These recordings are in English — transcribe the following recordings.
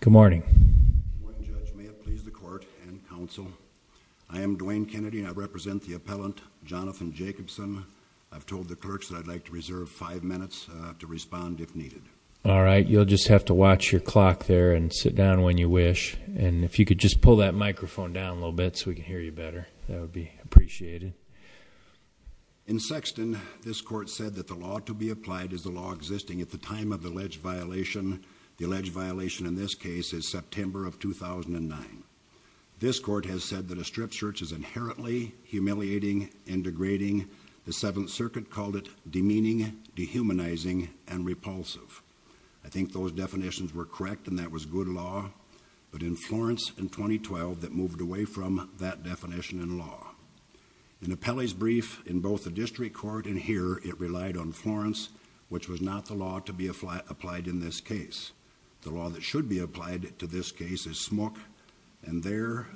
Good morning, Judge. May it please the court and counsel, I am Dwayne Kennedy and I represent the appellant, Jonathan Jacobson. I've told the clerks that I'd like to reserve five minutes to respond if needed. All right, you'll just have to watch your clock there and sit down when you wish. And if you could just pull that microphone down a little bit so we can hear you better, that would be appreciated. In Sexton, this court said that the law to be applied is the law existing at the time of the alleged violation. The alleged violation in this case is September of 2009. This court has said that a strip search is inherently humiliating and degrading. The Seventh Circuit called it demeaning, dehumanizing, and repulsive. I think those definitions were correct and that was good law, but in Florence in 2012 that moved away from that definition in law. In Appelli's brief in both the district court and here, it relied on Florence, which was not the law to be applied in this case. The law that should be applied to this case is Smook, and there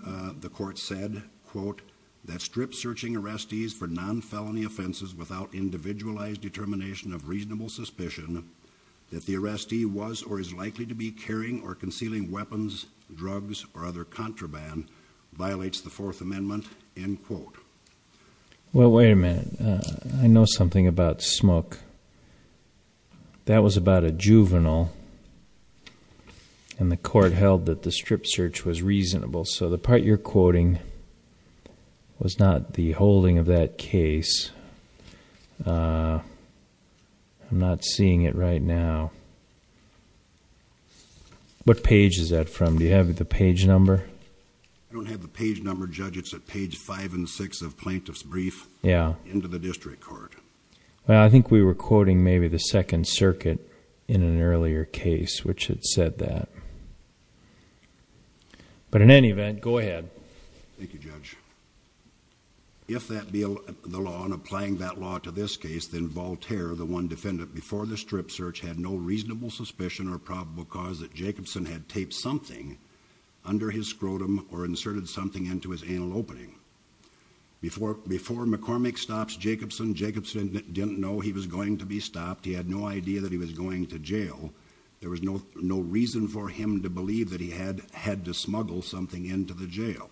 the court said, quote, that strip searching arrestees for non-felony offenses without individualized determination of reasonable suspicion that the arrestee was or is likely to be carrying or concealing weapons, drugs, or other contraband, violates the Fourth Amendment, end quote. Well, wait a minute. I know something about Smook. That was about a juvenile, and the court held that the strip search was reasonable, so the part you're quoting was not the holding of that case. I'm not seeing it right now. What page is that from? Do you have the page number? I don't have the page number, Judge. It's at page 5 and 6 of Plaintiff's brief into the district court. Yeah. Well, I think we were quoting maybe the Second Circuit in an earlier case, which had said that. But in any event, go ahead. Thank you, Judge. If that be the law, and applying that law to this case, then Voltaire, the one defendant before the strip search, had no reasonable suspicion or probable cause that Jacobson had taped something under his scrotum or inserted something into his anal opening. Before McCormick stops Jacobson, Jacobson didn't know he was going to be stopped. He had no idea that he was going to jail. There was no reason for him to believe that he had had to smuggle something into the jail.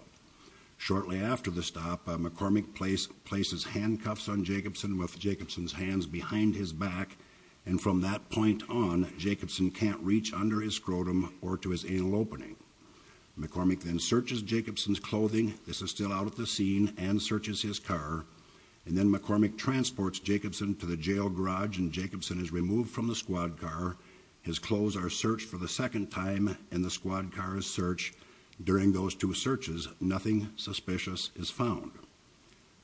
Shortly after the stop, McCormick places handcuffs on Jacobson with Jacobson's hands behind his back, and from that point on, Jacobson can't reach under his scrotum or to his anal opening. McCormick then searches Jacobson's clothing. This is still out at the scene. And searches his car. And then McCormick transports Jacobson to the jail garage, and Jacobson is removed from the squad car. His clothes are searched for the second time in the squad car's search. During those two searches, nothing suspicious is found.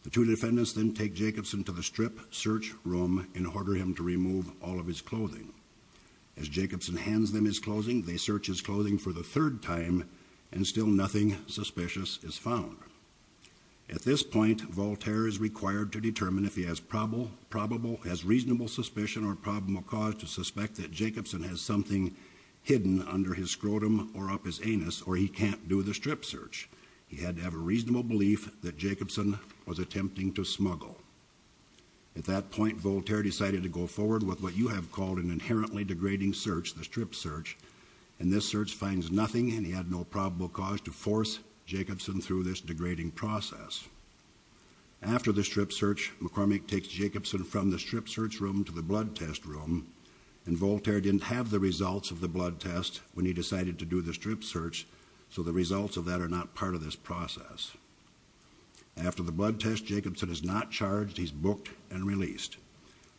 The two defendants then take Jacobson to the strip search room and order him to remove all of his clothing. As Jacobson hands them his clothing, they search his clothing for the third time, and still nothing suspicious is found. At this point, Voltaire is required to determine if he has probable, has reasonable suspicion or probable cause to suspect that Jacobson has something hidden under his scrotum or up his anus, or he can't do the strip search. He had to have a reasonable belief that Jacobson was attempting to smuggle. At that point, Voltaire decided to go forward with what you have called an inherently degrading search, the strip search. And this search finds nothing, and he had no probable cause to force Jacobson through this degrading process. After the strip search, McCormick takes Jacobson from the strip search room to the blood test room, and Voltaire didn't have the results of the blood test when he decided to do the strip search, so the results of that are not part of this process. After the blood test, Jacobson is not charged. He's booked and released.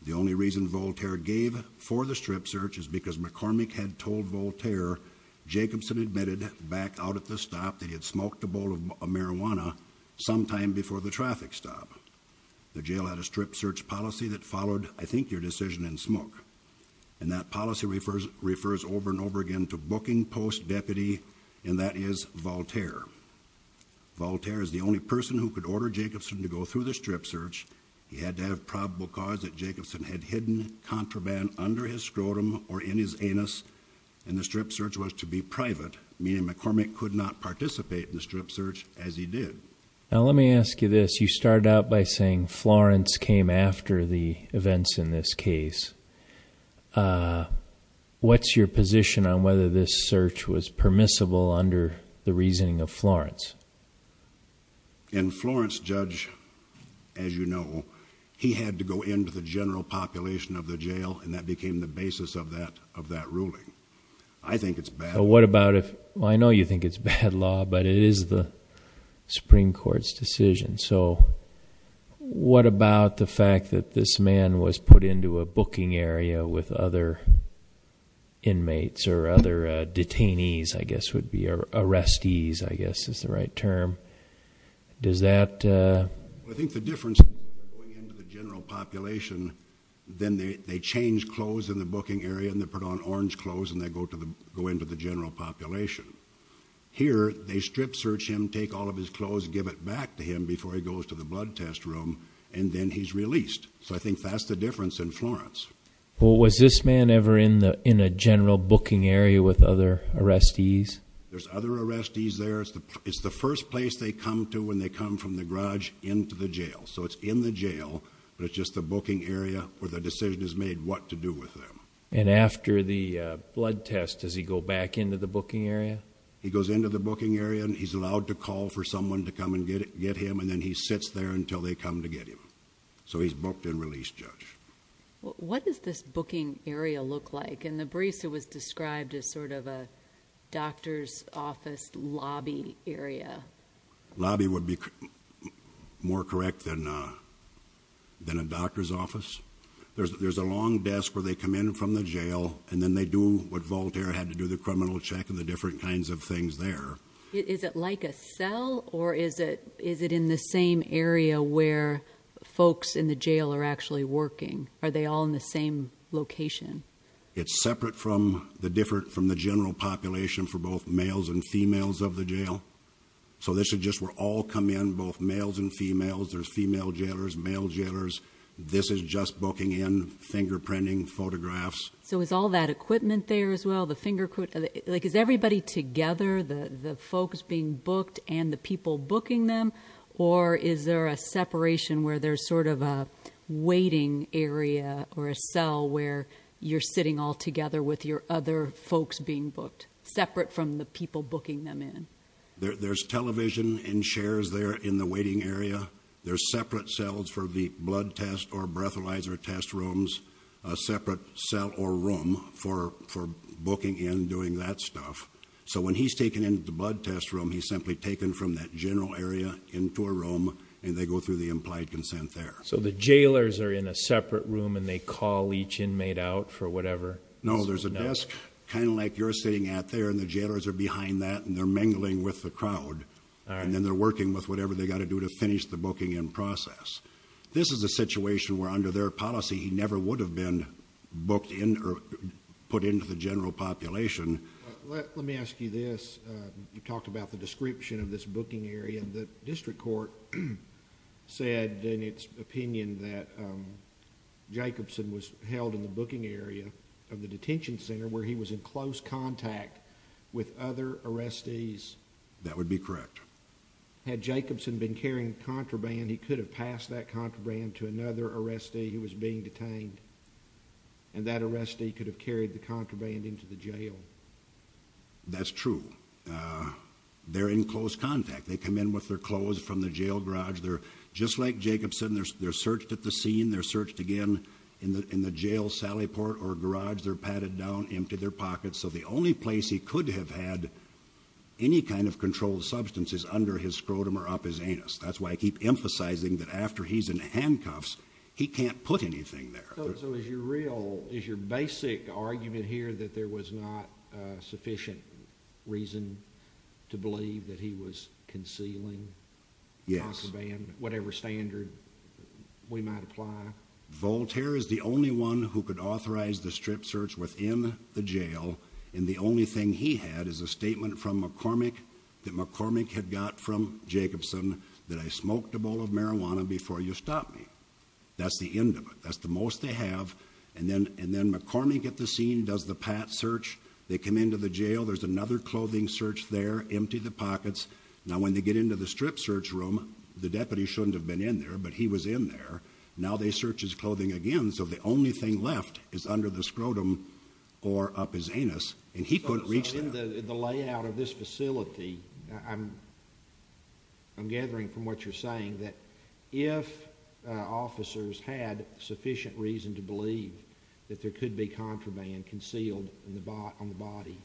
The only reason Voltaire gave for the strip search is because McCormick had told Voltaire Jacobson admitted back out at the stop that he had smoked a The jail had a strip search policy that followed, I think, your decision in smoke. And that policy refers over and over again to booking post deputy, and that is Voltaire. Voltaire is the only person who could order Jacobson to go through the strip search. He had to have probable cause that Jacobson had hidden contraband under his scrotum or in his anus, and the strip search was to be private, meaning McCormick could not participate in the strip search as he did. Now, let me ask you this. You started out by saying Florence came after the events in this case. What's your position on whether this search was permissible under the reasoning of Florence? In Florence, Judge, as you know, he had to go into the general population of the jail, and that became the basis of that of that ruling. I think it's bad. What about if I know you think it's bad law, but it is the Supreme Court's decision. So what about the fact that this man was put into a booking area with other inmates or other detainees, I guess would be arrestees, I guess is the right term. Does that I think the difference in the general population, then they change clothes in the booking area and they put on orange clothes and they go into the general population. Here, they strip search him, take all of his clothes, give it back to him before he goes to the blood test room, and then he's released. So I think that's the difference in Florence. Well, was this man ever in a general booking area with other arrestees? There's other arrestees there. It's the first place they come to when they come from the garage into the jail. So it's in the jail, but it's just the booking area where the decision is made what to do with them. And after the blood test, does he go back into the booking area? He goes into the booking area and he's allowed to call for someone to come and get him, and then he sits there until they come to get him. So he's booked and released, Judge. What does this booking area look like? In the briefs, it was described as sort of a doctor's office lobby area. Lobby would be more correct than a doctor's office. There's a long desk where they come in from the jail, and then they do what Voltaire had to do, the criminal check and the different kinds of things there. Is it like a cell, or is it in the same area where folks in the jail are actually working? Are they all in the same location? It's separate from the general population for both males and females of the jail. So this is just where all come in, both males and females. There's female jailers, male jailers. This is just booking in, fingerprinting, photographs. So is all that equipment there as well? Is everybody together, the folks being booked and the people booking them? Or is there a separation where there's sort of a waiting area or a cell where you're sitting all together with your other folks being booked, separate from the people booking them in? There's television and chairs there in the waiting area. There's separate cells for the blood test or breathalyzer test rooms, a separate cell or room for booking in, doing that stuff. So when he's taken into the blood test room, he's simply taken from that general area into a room, and they go through the implied consent there. So the jailers are in a separate room and they call each inmate out for whatever? No, there's a desk, kind of like you're sitting at there, and the jailers are behind that and they're mingling with the crowd. And then they're working with whatever they've got to do to finish the booking in process. This is a situation where under their policy, he never would have been booked in or put into the general population. Let me ask you this. You talked about the description of this booking area. The district court said in its opinion that Jacobson was held in the booking area of the detention center where he was in close contact with other arrestees. That would be correct. Had Jacobson been carrying contraband, he could have passed that contraband to another arrestee who was being detained, and that arrestee could have carried the contraband into the jail. That's true. They're in close contact. They come in with their clothes from the jail garage. Just like Jacobson, they're searched at the scene, they're searched again in the jail sally port or garage. They're padded down, emptied their pockets. So the only place he could have had any kind of controlled substance is under his scrotum or up his anus. That's why I keep emphasizing that after he's in handcuffs, he can't put anything there. So is your basic argument here that there was not sufficient reason to believe that he was concealing contraband, whatever standard we might apply? Voltaire is the only one who could authorize the strip search within the jail, and the only thing he had is a statement from McCormick that McCormick had got from Jacobson that I smoked a bowl of marijuana before you stopped me. That's the end of it. That's the most they have, and then McCormick at the scene does the pat search. They come into the jail. There's another clothing search there. Empty the pockets. Now when they get into the strip search room, the deputy shouldn't have been in there, but he was in there. Now they search his clothing again, so the only thing left is under the scrotum or up his anus, and he couldn't reach that. In the layout of this facility, I'm gathering from what you're saying that if officers had sufficient reason to believe that there could be contraband concealed on the body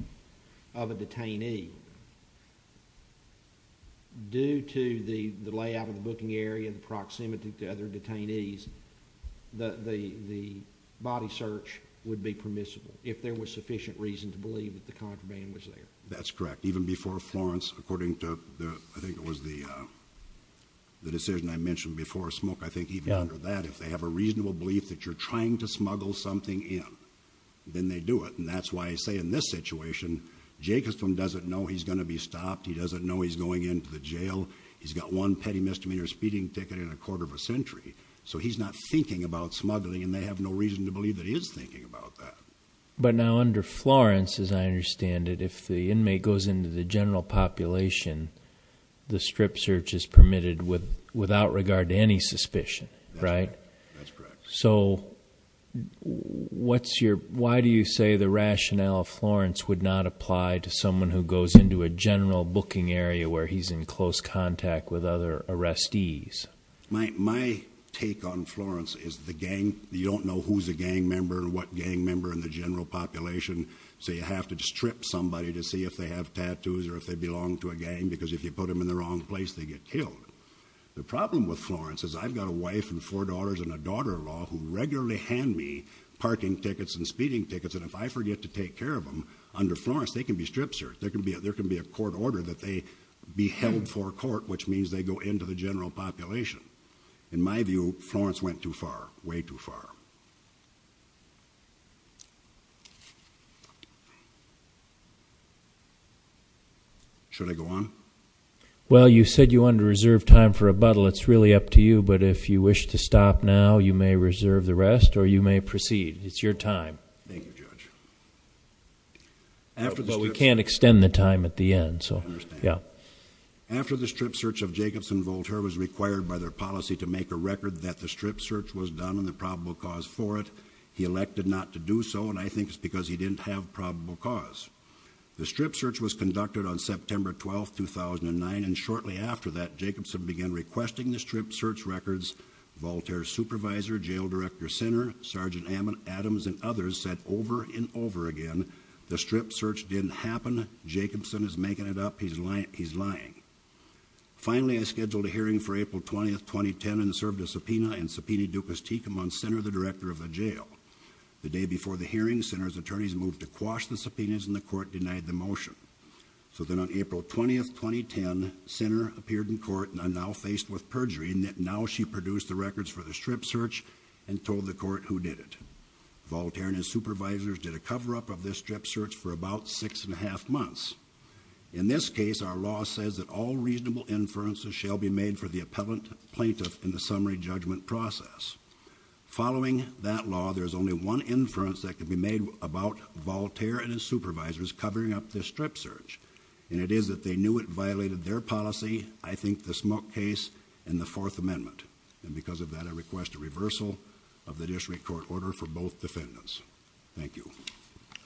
of a detainee, due to the layout of the booking area, the proximity to other detainees, the body search would be permissible, if there was sufficient reason to believe that the contraband was there. That's correct. Even before Florence, according to, I think it was the decision I mentioned before, Smoke, I think even under that, if they have a reasonable belief that you're trying to smuggle something in, then they do it, and that's why I say in this situation Jacobson doesn't know he's going to be stopped. He doesn't know he's going into the jail. He's got one petty misdemeanor speeding ticket in a quarter of a century, so he's not thinking about smuggling, and they have no reason to believe that he is thinking about that. But now under Florence, as I understand it, if the inmate goes into the general population, the strip search is permitted without regard to any suspicion, right? That's correct. So, why do you say the rationale of Florence would not apply to someone who goes into a general booking area where he's in close contact with other arrestees? My take on Florence is the gang, you don't know who's a gang member and what gang member in the general population, so you have to strip somebody to see if they have tattoos or if they belong to a gang, because if you put them in the wrong place, they get killed. The problem with Florence is I've got a wife and four daughters and a daughter-in-law who regularly hand me parking tickets and speeding tickets, and if I forget to take care of them, under Florence, they can be strip searched. There can be a court order that they be held for a court, which means they go into the general population. In my view, Florence went too far, way too far. Should I go on? Well, you said you wanted to reserve time for rebuttal. It's really up to you, but if you wish to stop now, you may reserve the rest or you may proceed. It's your time. Thank you, Judge. But we can't extend the time at the end, so... I understand. Yeah. After the strip search of Jacobson, Voltaire was required by their policy to make a record that the strip search was done and the probable cause for it. He elected not to do so, and I think it's because he didn't have probable cause. The strip search was conducted on September 12, 2009, and shortly after that, Jacobson began requesting the strip search records. Voltaire's supervisor, jail director Sinner, Sergeant Adams, and others said over and over again, the strip search didn't happen. Jacobson is making it up. He's lying. Finally, I scheduled a hearing for April 20, 2010, and served a subpoena in subpoena ducus tecum on Sinner, the director of the jail. The day before the hearing, Sinner's attorneys moved to quash the subpoenas and the court denied the motion. So then on April 20, 2010, Sinner appeared in court and I'm now faced with perjury in that now she produced the records for the strip search and told the court who did it. Voltaire and his supervisors did a cover-up of this strip search for about six and a half months. In this case, our law says that all reasonable inferences shall be made for the appellant plaintiff in the summary judgment process. Following that law, there is only one inference that can be made about Voltaire and his supervisors covering up this strip search, and it is that they knew it violated their policy, I think the smoke case, and the Fourth Amendment. And because of that, I request a reversal of the district court order for both defendants. Thank you.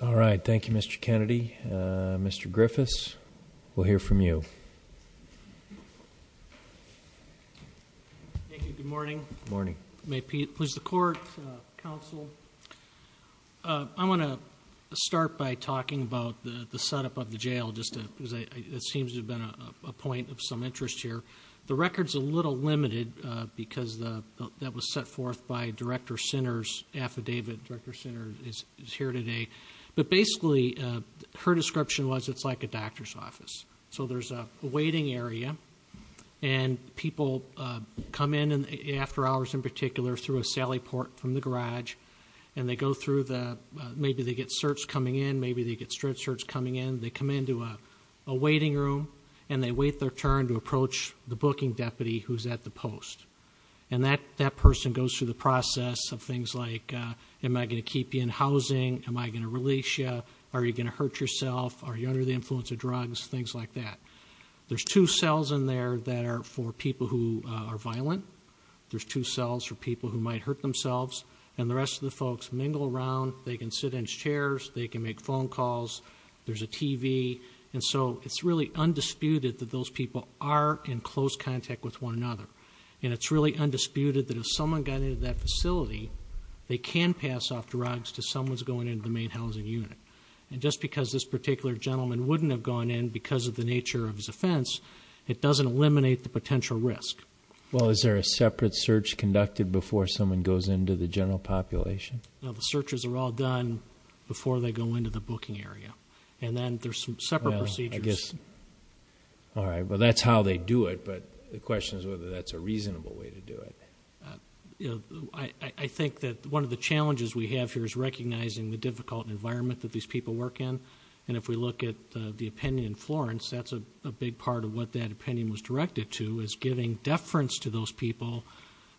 All right. Thank you, Mr. Kennedy. Mr. Griffiths, we'll hear from you. Thank you. Good morning. May it please the court, counsel. I want to start by talking about the setup of the jail, just because it seems to have been a point of some interest here. The record's a little limited because that was set forth by Director Sinner's affidavit. Director Sinner is here today. But basically, her description was it's like a doctor's office. So there's a waiting area, and people come in, after hours in particular, through a sally port from the garage, and they go through the, maybe they get search coming in, maybe they get strip search coming in. They come into a waiting room, and they wait their turn to approach the booking deputy who's at the post. And that person goes through the process of things like, am I going to keep you in housing? Am I going to release you? Are you going to hurt yourself? Are you under the influence of drugs? Things like that. There's two cells in there that are for people who are violent. There's two cells for people who might hurt themselves. And the rest of the folks mingle around. They can sit in chairs. They can make phone calls. There's a TV. And so it's really undisputed that those people are in close contact with one another. And it's really undisputed that if someone got into that facility, they can pass off drugs to someone who's going into the main housing unit. And just because this particular gentleman wouldn't have gone in because of the nature of his offense, it doesn't eliminate the potential risk. Well, is there a separate search conducted before someone goes into the general population? No, the searches are all done before they go into the booking area. And then there's some separate procedures. I guess. All right. Well, that's how they do it. But the question is whether that's a reasonable way to do it. I think that one of the challenges we have here is recognizing the difficult environment that these people work in. And if we look at the opinion in Florence, that's a big part of what that opinion was directed to, is giving deference to those people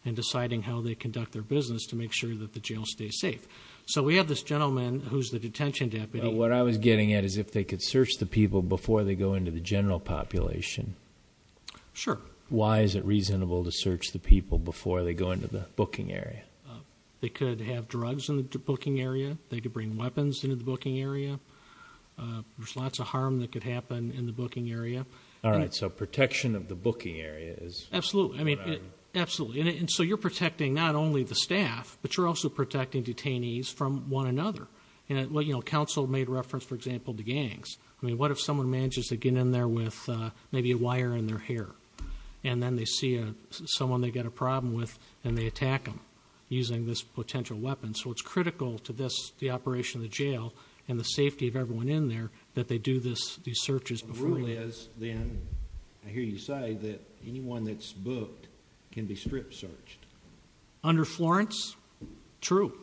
and deciding how they conduct their business to make sure that the jail stays safe. So we have this gentleman who's the detention deputy. What I was getting at is if they could search the people before they go into the general population. Sure. Why is it reasonable to search the people before they go into the booking area? They could have drugs in the booking area. They could bring weapons into the booking area. There's lots of harm that could happen in the booking area. All right. So protection of the booking area is. Absolutely. I mean, absolutely. And so you're protecting not only the staff, but you're also protecting detainees from one another. You know, counsel made reference, for example, to gangs. I mean, what if someone manages to get in there with maybe a wire in their hair and then they see someone they've got a problem with and they attack them using this potential weapon? So it's critical to this, the operation of the jail and the safety of everyone in there that they do this, these searches before. The rule is then, I hear you say, that anyone that's booked can be strip searched. Under Florence, true.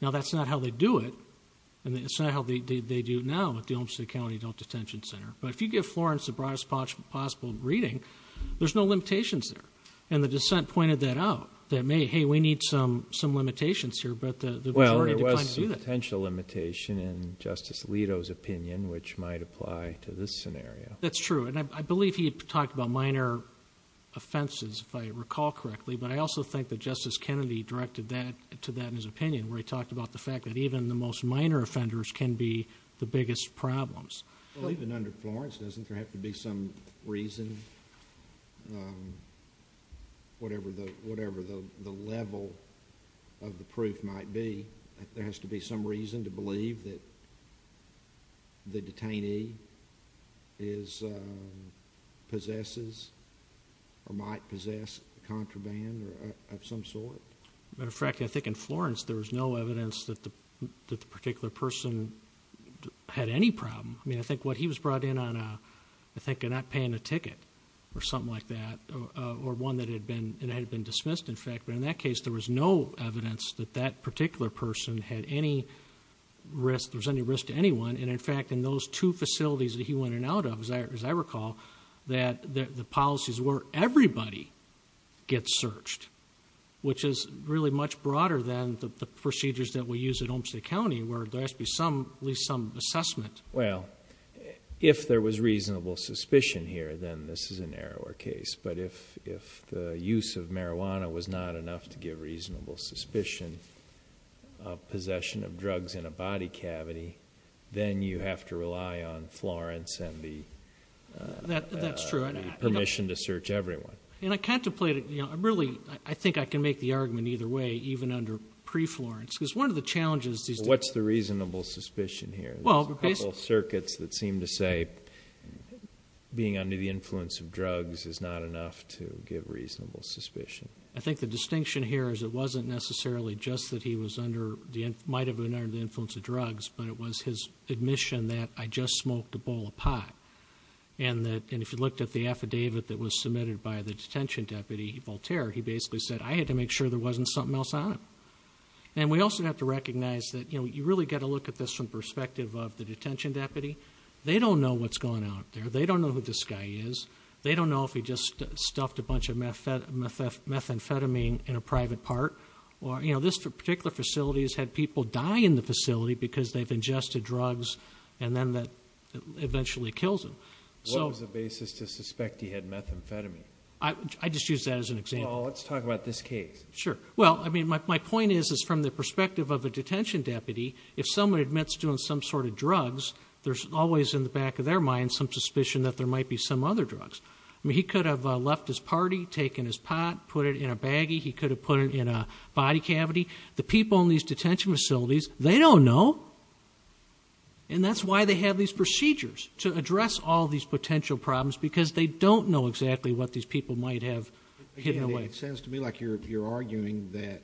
Now, that's not how they do it, and it's not how they do it now with the Olmstead County Adult Detention Center. But if you give Florence the broadest possible reading, there's no limitations there. And the dissent pointed that out, that may, hey, we need some limitations here, but the majority declined to do that. Well, there was some potential limitation in Justice Alito's opinion, which might apply to this scenario. That's true. And I believe he talked about minor offenses, if I recall correctly. But I also think that Justice Kennedy directed that to that in his opinion, where he talked about the fact that even the most minor offenders can be the biggest problems. Well, even under Florence, doesn't there have to be some reason, whatever the level of the person is, possesses, or might possess contraband of some sort? Matter of fact, I think in Florence, there was no evidence that the particular person had any problem. I mean, I think what he was brought in on, I think, not paying a ticket or something like that, or one that had been dismissed, in fact. But in that case, there was no evidence that that particular person had any risk, there was any risk to anyone. And in fact, in those two facilities that he went in and out of, as I recall, the policies were everybody gets searched, which is really much broader than the procedures that we use at Olmstead County, where there has to be at least some assessment. Well, if there was reasonable suspicion here, then this is a narrower case. But if the use of marijuana was not enough to give reasonable suspicion of possession of drugs in a body cavity, then you have to rely on Florence and the permission to search everyone. And I contemplated, you know, I'm really, I think I can make the argument either way, even under pre-Florence. Because one of the challenges these days... What's the reasonable suspicion here? There's a couple of circuits that seem to say being under the influence of drugs is not enough to give reasonable suspicion. I think the distinction here is it wasn't necessarily just that he was under, might have been under the influence of drugs, but it was his admission that I just smoked a bowl of pot. And if you looked at the affidavit that was submitted by the detention deputy, Voltaire, he basically said I had to make sure there wasn't something else on it. And we also have to recognize that, you know, you really got to look at this from the perspective of the detention deputy. They don't know what's going on out there. They don't know who this guy is. They don't know if he just stuffed a bunch of methamphetamine in a private part. Or, you know, this particular facility has had people die in the facility because they've ingested drugs and then that eventually kills them. What was the basis to suspect he had methamphetamine? I just used that as an example. Well, let's talk about this case. Sure. Well, I mean, my point is, is from the perspective of a detention deputy, if someone admits to doing some sort of drugs, there's always in the back of their mind some suspicion that there might be some other drugs. I mean, he could have left his party, taken his pot, put it in a baggie. He could have put it in a body cavity. The people in these detention facilities, they don't know. And that's why they have these procedures to address all these potential problems, because they don't know exactly what these people might have hidden away. It sounds to me like you're arguing that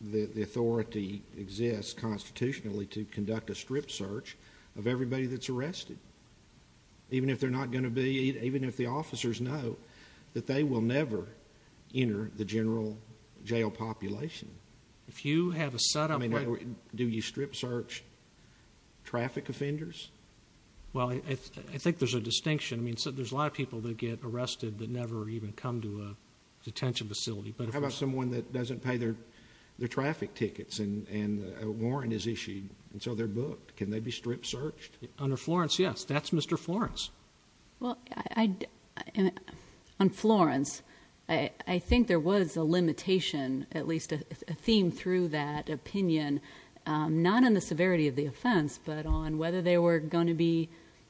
the authority exists constitutionally to conduct a strip search of everybody that's arrested. Even if they're not going to be, even if the officers know that they will never enter the general jail population. If you have a set-up... I mean, do you strip search traffic offenders? Well, I think there's a distinction. I mean, there's a lot of people that get arrested that never even come to a detention facility, but... How about someone that doesn't pay their traffic tickets and a warrant is issued, and so they're booked? Can they be strip searched? Under Florence, yes. That's Mr. Florence. Well, on Florence, I think there was a limitation, at least a theme through that opinion, not on the severity of the offense, but on whether they were going to be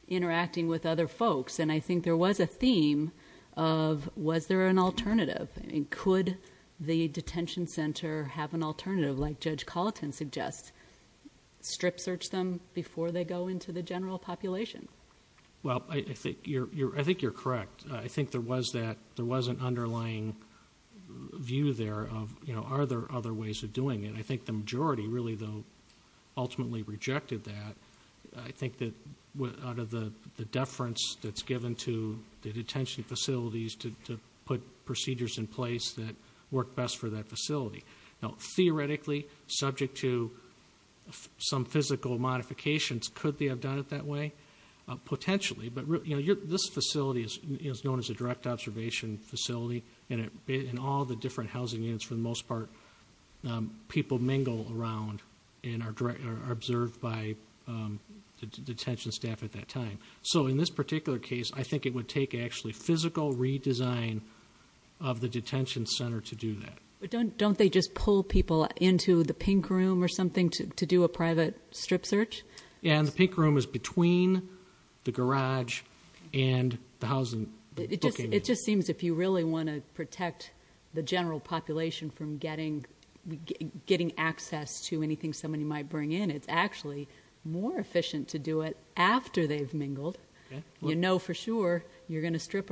interacting with other folks. And I think there was a theme of, was there an alternative? Could the detention center have an alternative, like Judge Colleton suggests? Strip search them before they go into the general population? Well, I think you're correct. I think there was an underlying view there of, are there other ways of doing it? I think the majority really, though, ultimately rejected that. I think that out of the deference that's given to the detention facilities to put procedures in place that work best for that facility. Now, theoretically, subject to some physical modifications, could they have done it that way? Potentially, but this facility is known as a direct observation facility, and in all the different housing units, for the most part, people mingle around and are observed by the detention staff at that time. So in this particular case, I think it would take, actually, physical redesign of the detention center to do that. But don't they just pull people into the pink room or something to do a private strip search? Yeah, and the pink room is between the garage and the housing. It just seems if you really want to protect the general population from getting access to anything somebody might bring in, it's actually more efficient to do it after they've mingled. You know for sure you're going to strip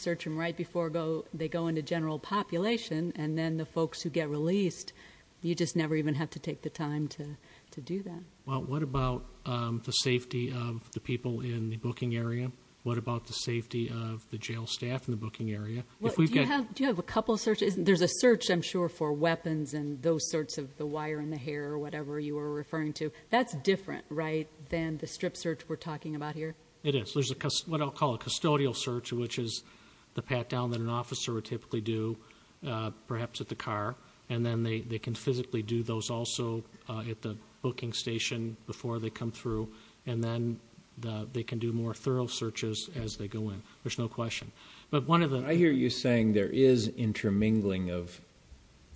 search them right before they go into the general population, and then the folks who get released, you just never even have to take the time to do that. What about the safety of the people in the booking area? What about the safety of the jail staff in the booking area? Do you have a couple of searches? There's a search, I'm sure, for weapons and those sorts of the wire in the hair or whatever you were referring to. That's different, right, than the strip search we're talking about here? It is. There's what I'll call a custodial search, which is the pat down that an officer would typically do, perhaps at the car, and then they can physically do those also at the booking station before they come through, and then they can do more thorough searches as they go in. There's no question. I hear you saying there is intermingling of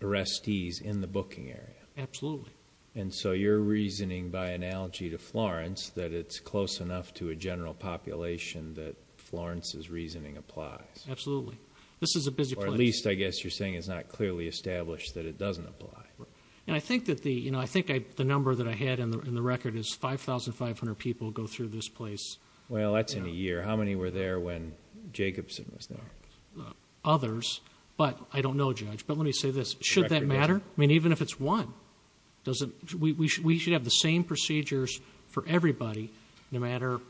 arrestees in the booking area. Absolutely. And so you're reasoning by analogy to Florence that it's close enough to a general population that Florence's reasoning applies. Absolutely. This is a busy place. Or at least, I guess you're saying it's not clearly established that it doesn't apply. I think the number that I had in the record is 5,500 people go through this place. Well, that's in a year. How many were there when Jacobson was there? Others, but I don't know, Judge. But let me say this. Should that matter? I mean, even if it's one, we should have the same procedures for everybody, no matter...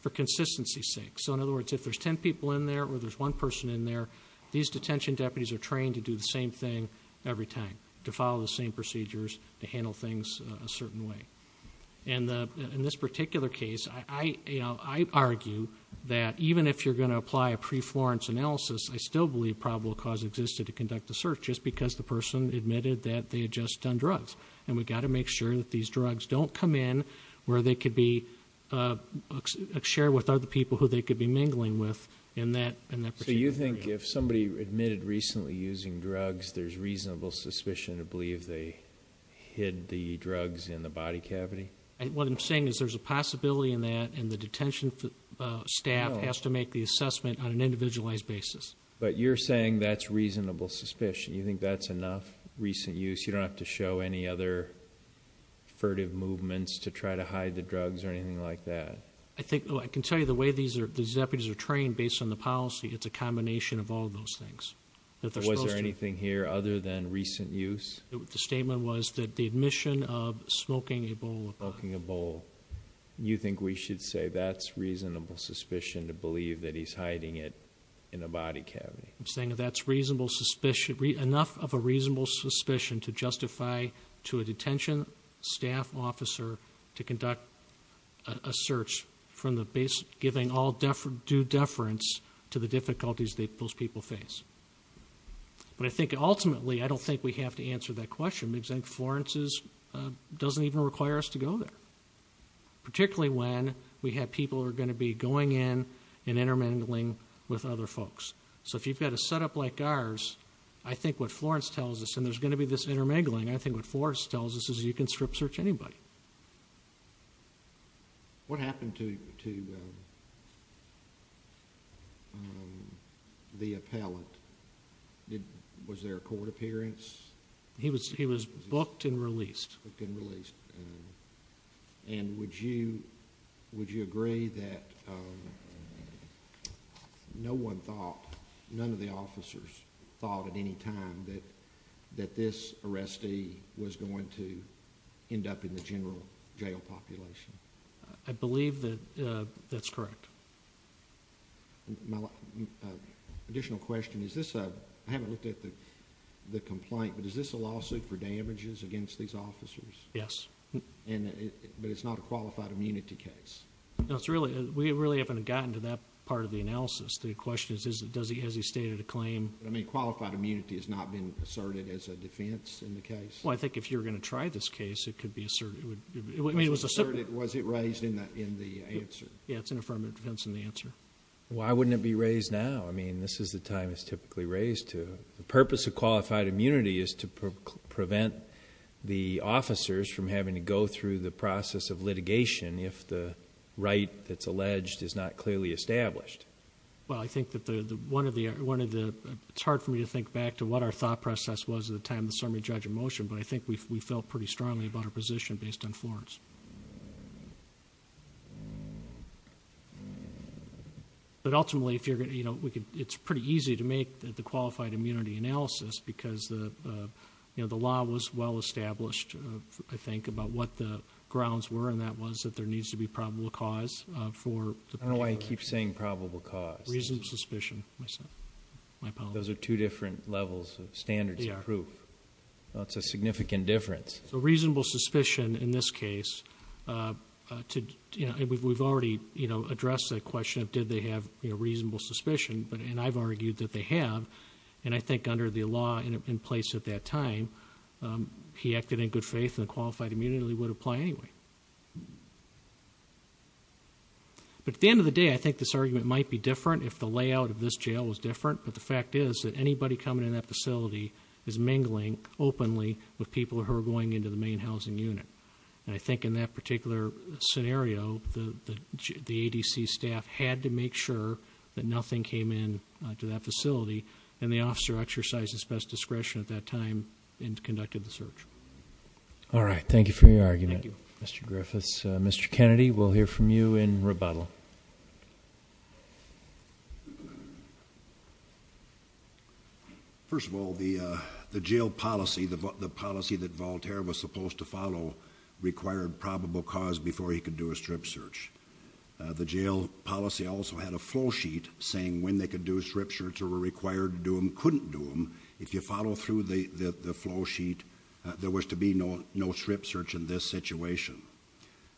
for consistency's there, or there's one person in there. These detention deputies are trained to do the same thing every time, to follow the same procedures, to handle things a certain way. In this particular case, I argue that even if you're going to apply a pre-Florence analysis, I still believe probable cause existed to conduct the search, just because the person admitted that they had just done drugs. And we've got to make sure that these drugs don't come in where they could be shared with other people who they could be mingling with in that particular... So you think if somebody admitted recently using drugs, there's reasonable suspicion to believe they hid the drugs in the body cavity? What I'm saying is there's a possibility in that, and the detention staff has to make the assessment on an individualized basis. But you're saying that's reasonable suspicion. You think that's enough recent use? You don't have to show any other furtive movements to try to hide the drugs or anything like that? I can tell you the way these deputies are trained, based on the policy, it's a combination of all those things. Was there anything here other than recent use? The statement was that the admission of smoking a bowl... Smoking a bowl. You think we should say that's reasonable suspicion to believe that he's hiding it in a body cavity? I'm saying that's enough of a reasonable suspicion to justify to a detention staff officer to conduct a search, giving all due deference to the difficulties that those people face. But I think ultimately, I don't think we have to answer that question, because I think Florence doesn't even require us to go there, particularly when we have people who are going to be going in and intermingling with other folks. So if you've got a setup like ours, I think what Florence tells us, and there's going to be this intermingling, I think what Florence tells us is you can strip search anybody. What happened to the appellant? Was there a court appearance? He was booked and released. And would you agree that no one thought, none of the officers thought at any time that this arrestee was going to end up in the general jail population? I believe that that's correct. Additional question, is this a... I haven't looked at the complaint, but is this a lawsuit for damages against these officers? Yes. But it's not a qualified immunity case? No, we really haven't gotten to that part of the analysis. The question is, has he stated a claim? Qualified immunity has not been asserted as a defense in the case? Well, I think if you're going to try this case, it could be asserted. I mean, it was asserted. Was it raised in the answer? Yeah, it's an affirmative defense in the answer. Why wouldn't it be raised now? I mean, this is the time it's typically raised to. The purpose of qualified immunity is to prevent the officers from having to go through the process of litigation if the right that's alleged is not clearly established. Well, I think that one of the... it's hard for me to think back to what our thought process was at the time of the summary judge of motion, but I think we felt pretty strongly about our position based on Florence. But ultimately, it's pretty easy to make the qualified immunity analysis because the law was well established, I think, about what the grounds were, and that was that there needs to be probable cause for... I don't know why you keep saying probable cause. Reasonable suspicion, my apologies. Those are two different levels of standards of proof. It's a significant difference. So, reasonable suspicion in this case... we've already addressed that question of did they have reasonable suspicion, and I've argued that they have. And I think under the law in place at that time, he acted in good faith and qualified immunity would apply anyway. But at the end of the day, I think this argument might be different if the layout of this jail was different, but the fact is that anybody coming in that facility is mingling openly with people who are going into the main housing unit. And I think in that particular scenario, the ADC staff had to make sure that nothing came in to that facility, and the officer exercised his best discretion at that time and conducted the search. All right. Thank you for your argument. Thank you. Mr. Griffiths. Mr. Kennedy, we'll hear from you in rebuttal. First of all, the jail policy, the policy that Voltaire was supposed to follow, required probable cause before he could do a strip search. The jail policy also had a flow sheet saying when they could do a strip search or were required to do them, couldn't do them. If you follow through the flow sheet, there was to be no strip search in this situation.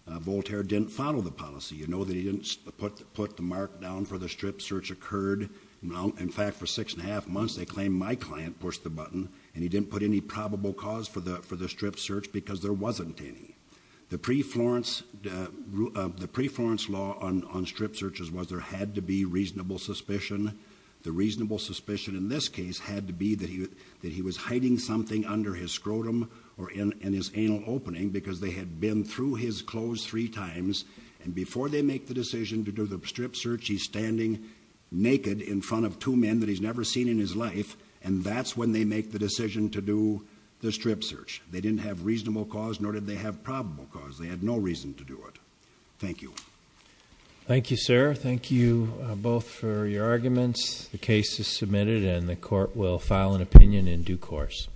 Voltaire didn't follow the policy. You know that he didn't put the mark down for the strip search occurred. In fact, for six and a half months, they claimed my client pushed the button, and he didn't put any probable cause for the strip search because there wasn't any. The pre-Florence law on strip searches was there had to be reasonable suspicion. The reasonable suspicion in this case had to be that he was hiding something under his scrotum or in his anal opening because they had been through his clothes three times, and before they make the decision to do the strip search, he's standing naked in front of two men that he's never seen in his life, and that's when they make the decision to do the strip search. They didn't have reasonable cause, nor did they have probable cause. They had no reason to do it. Thank you. Thank you, sir. Thank you both for your arguments. The case is submitted, and the court will file an opinion in due course.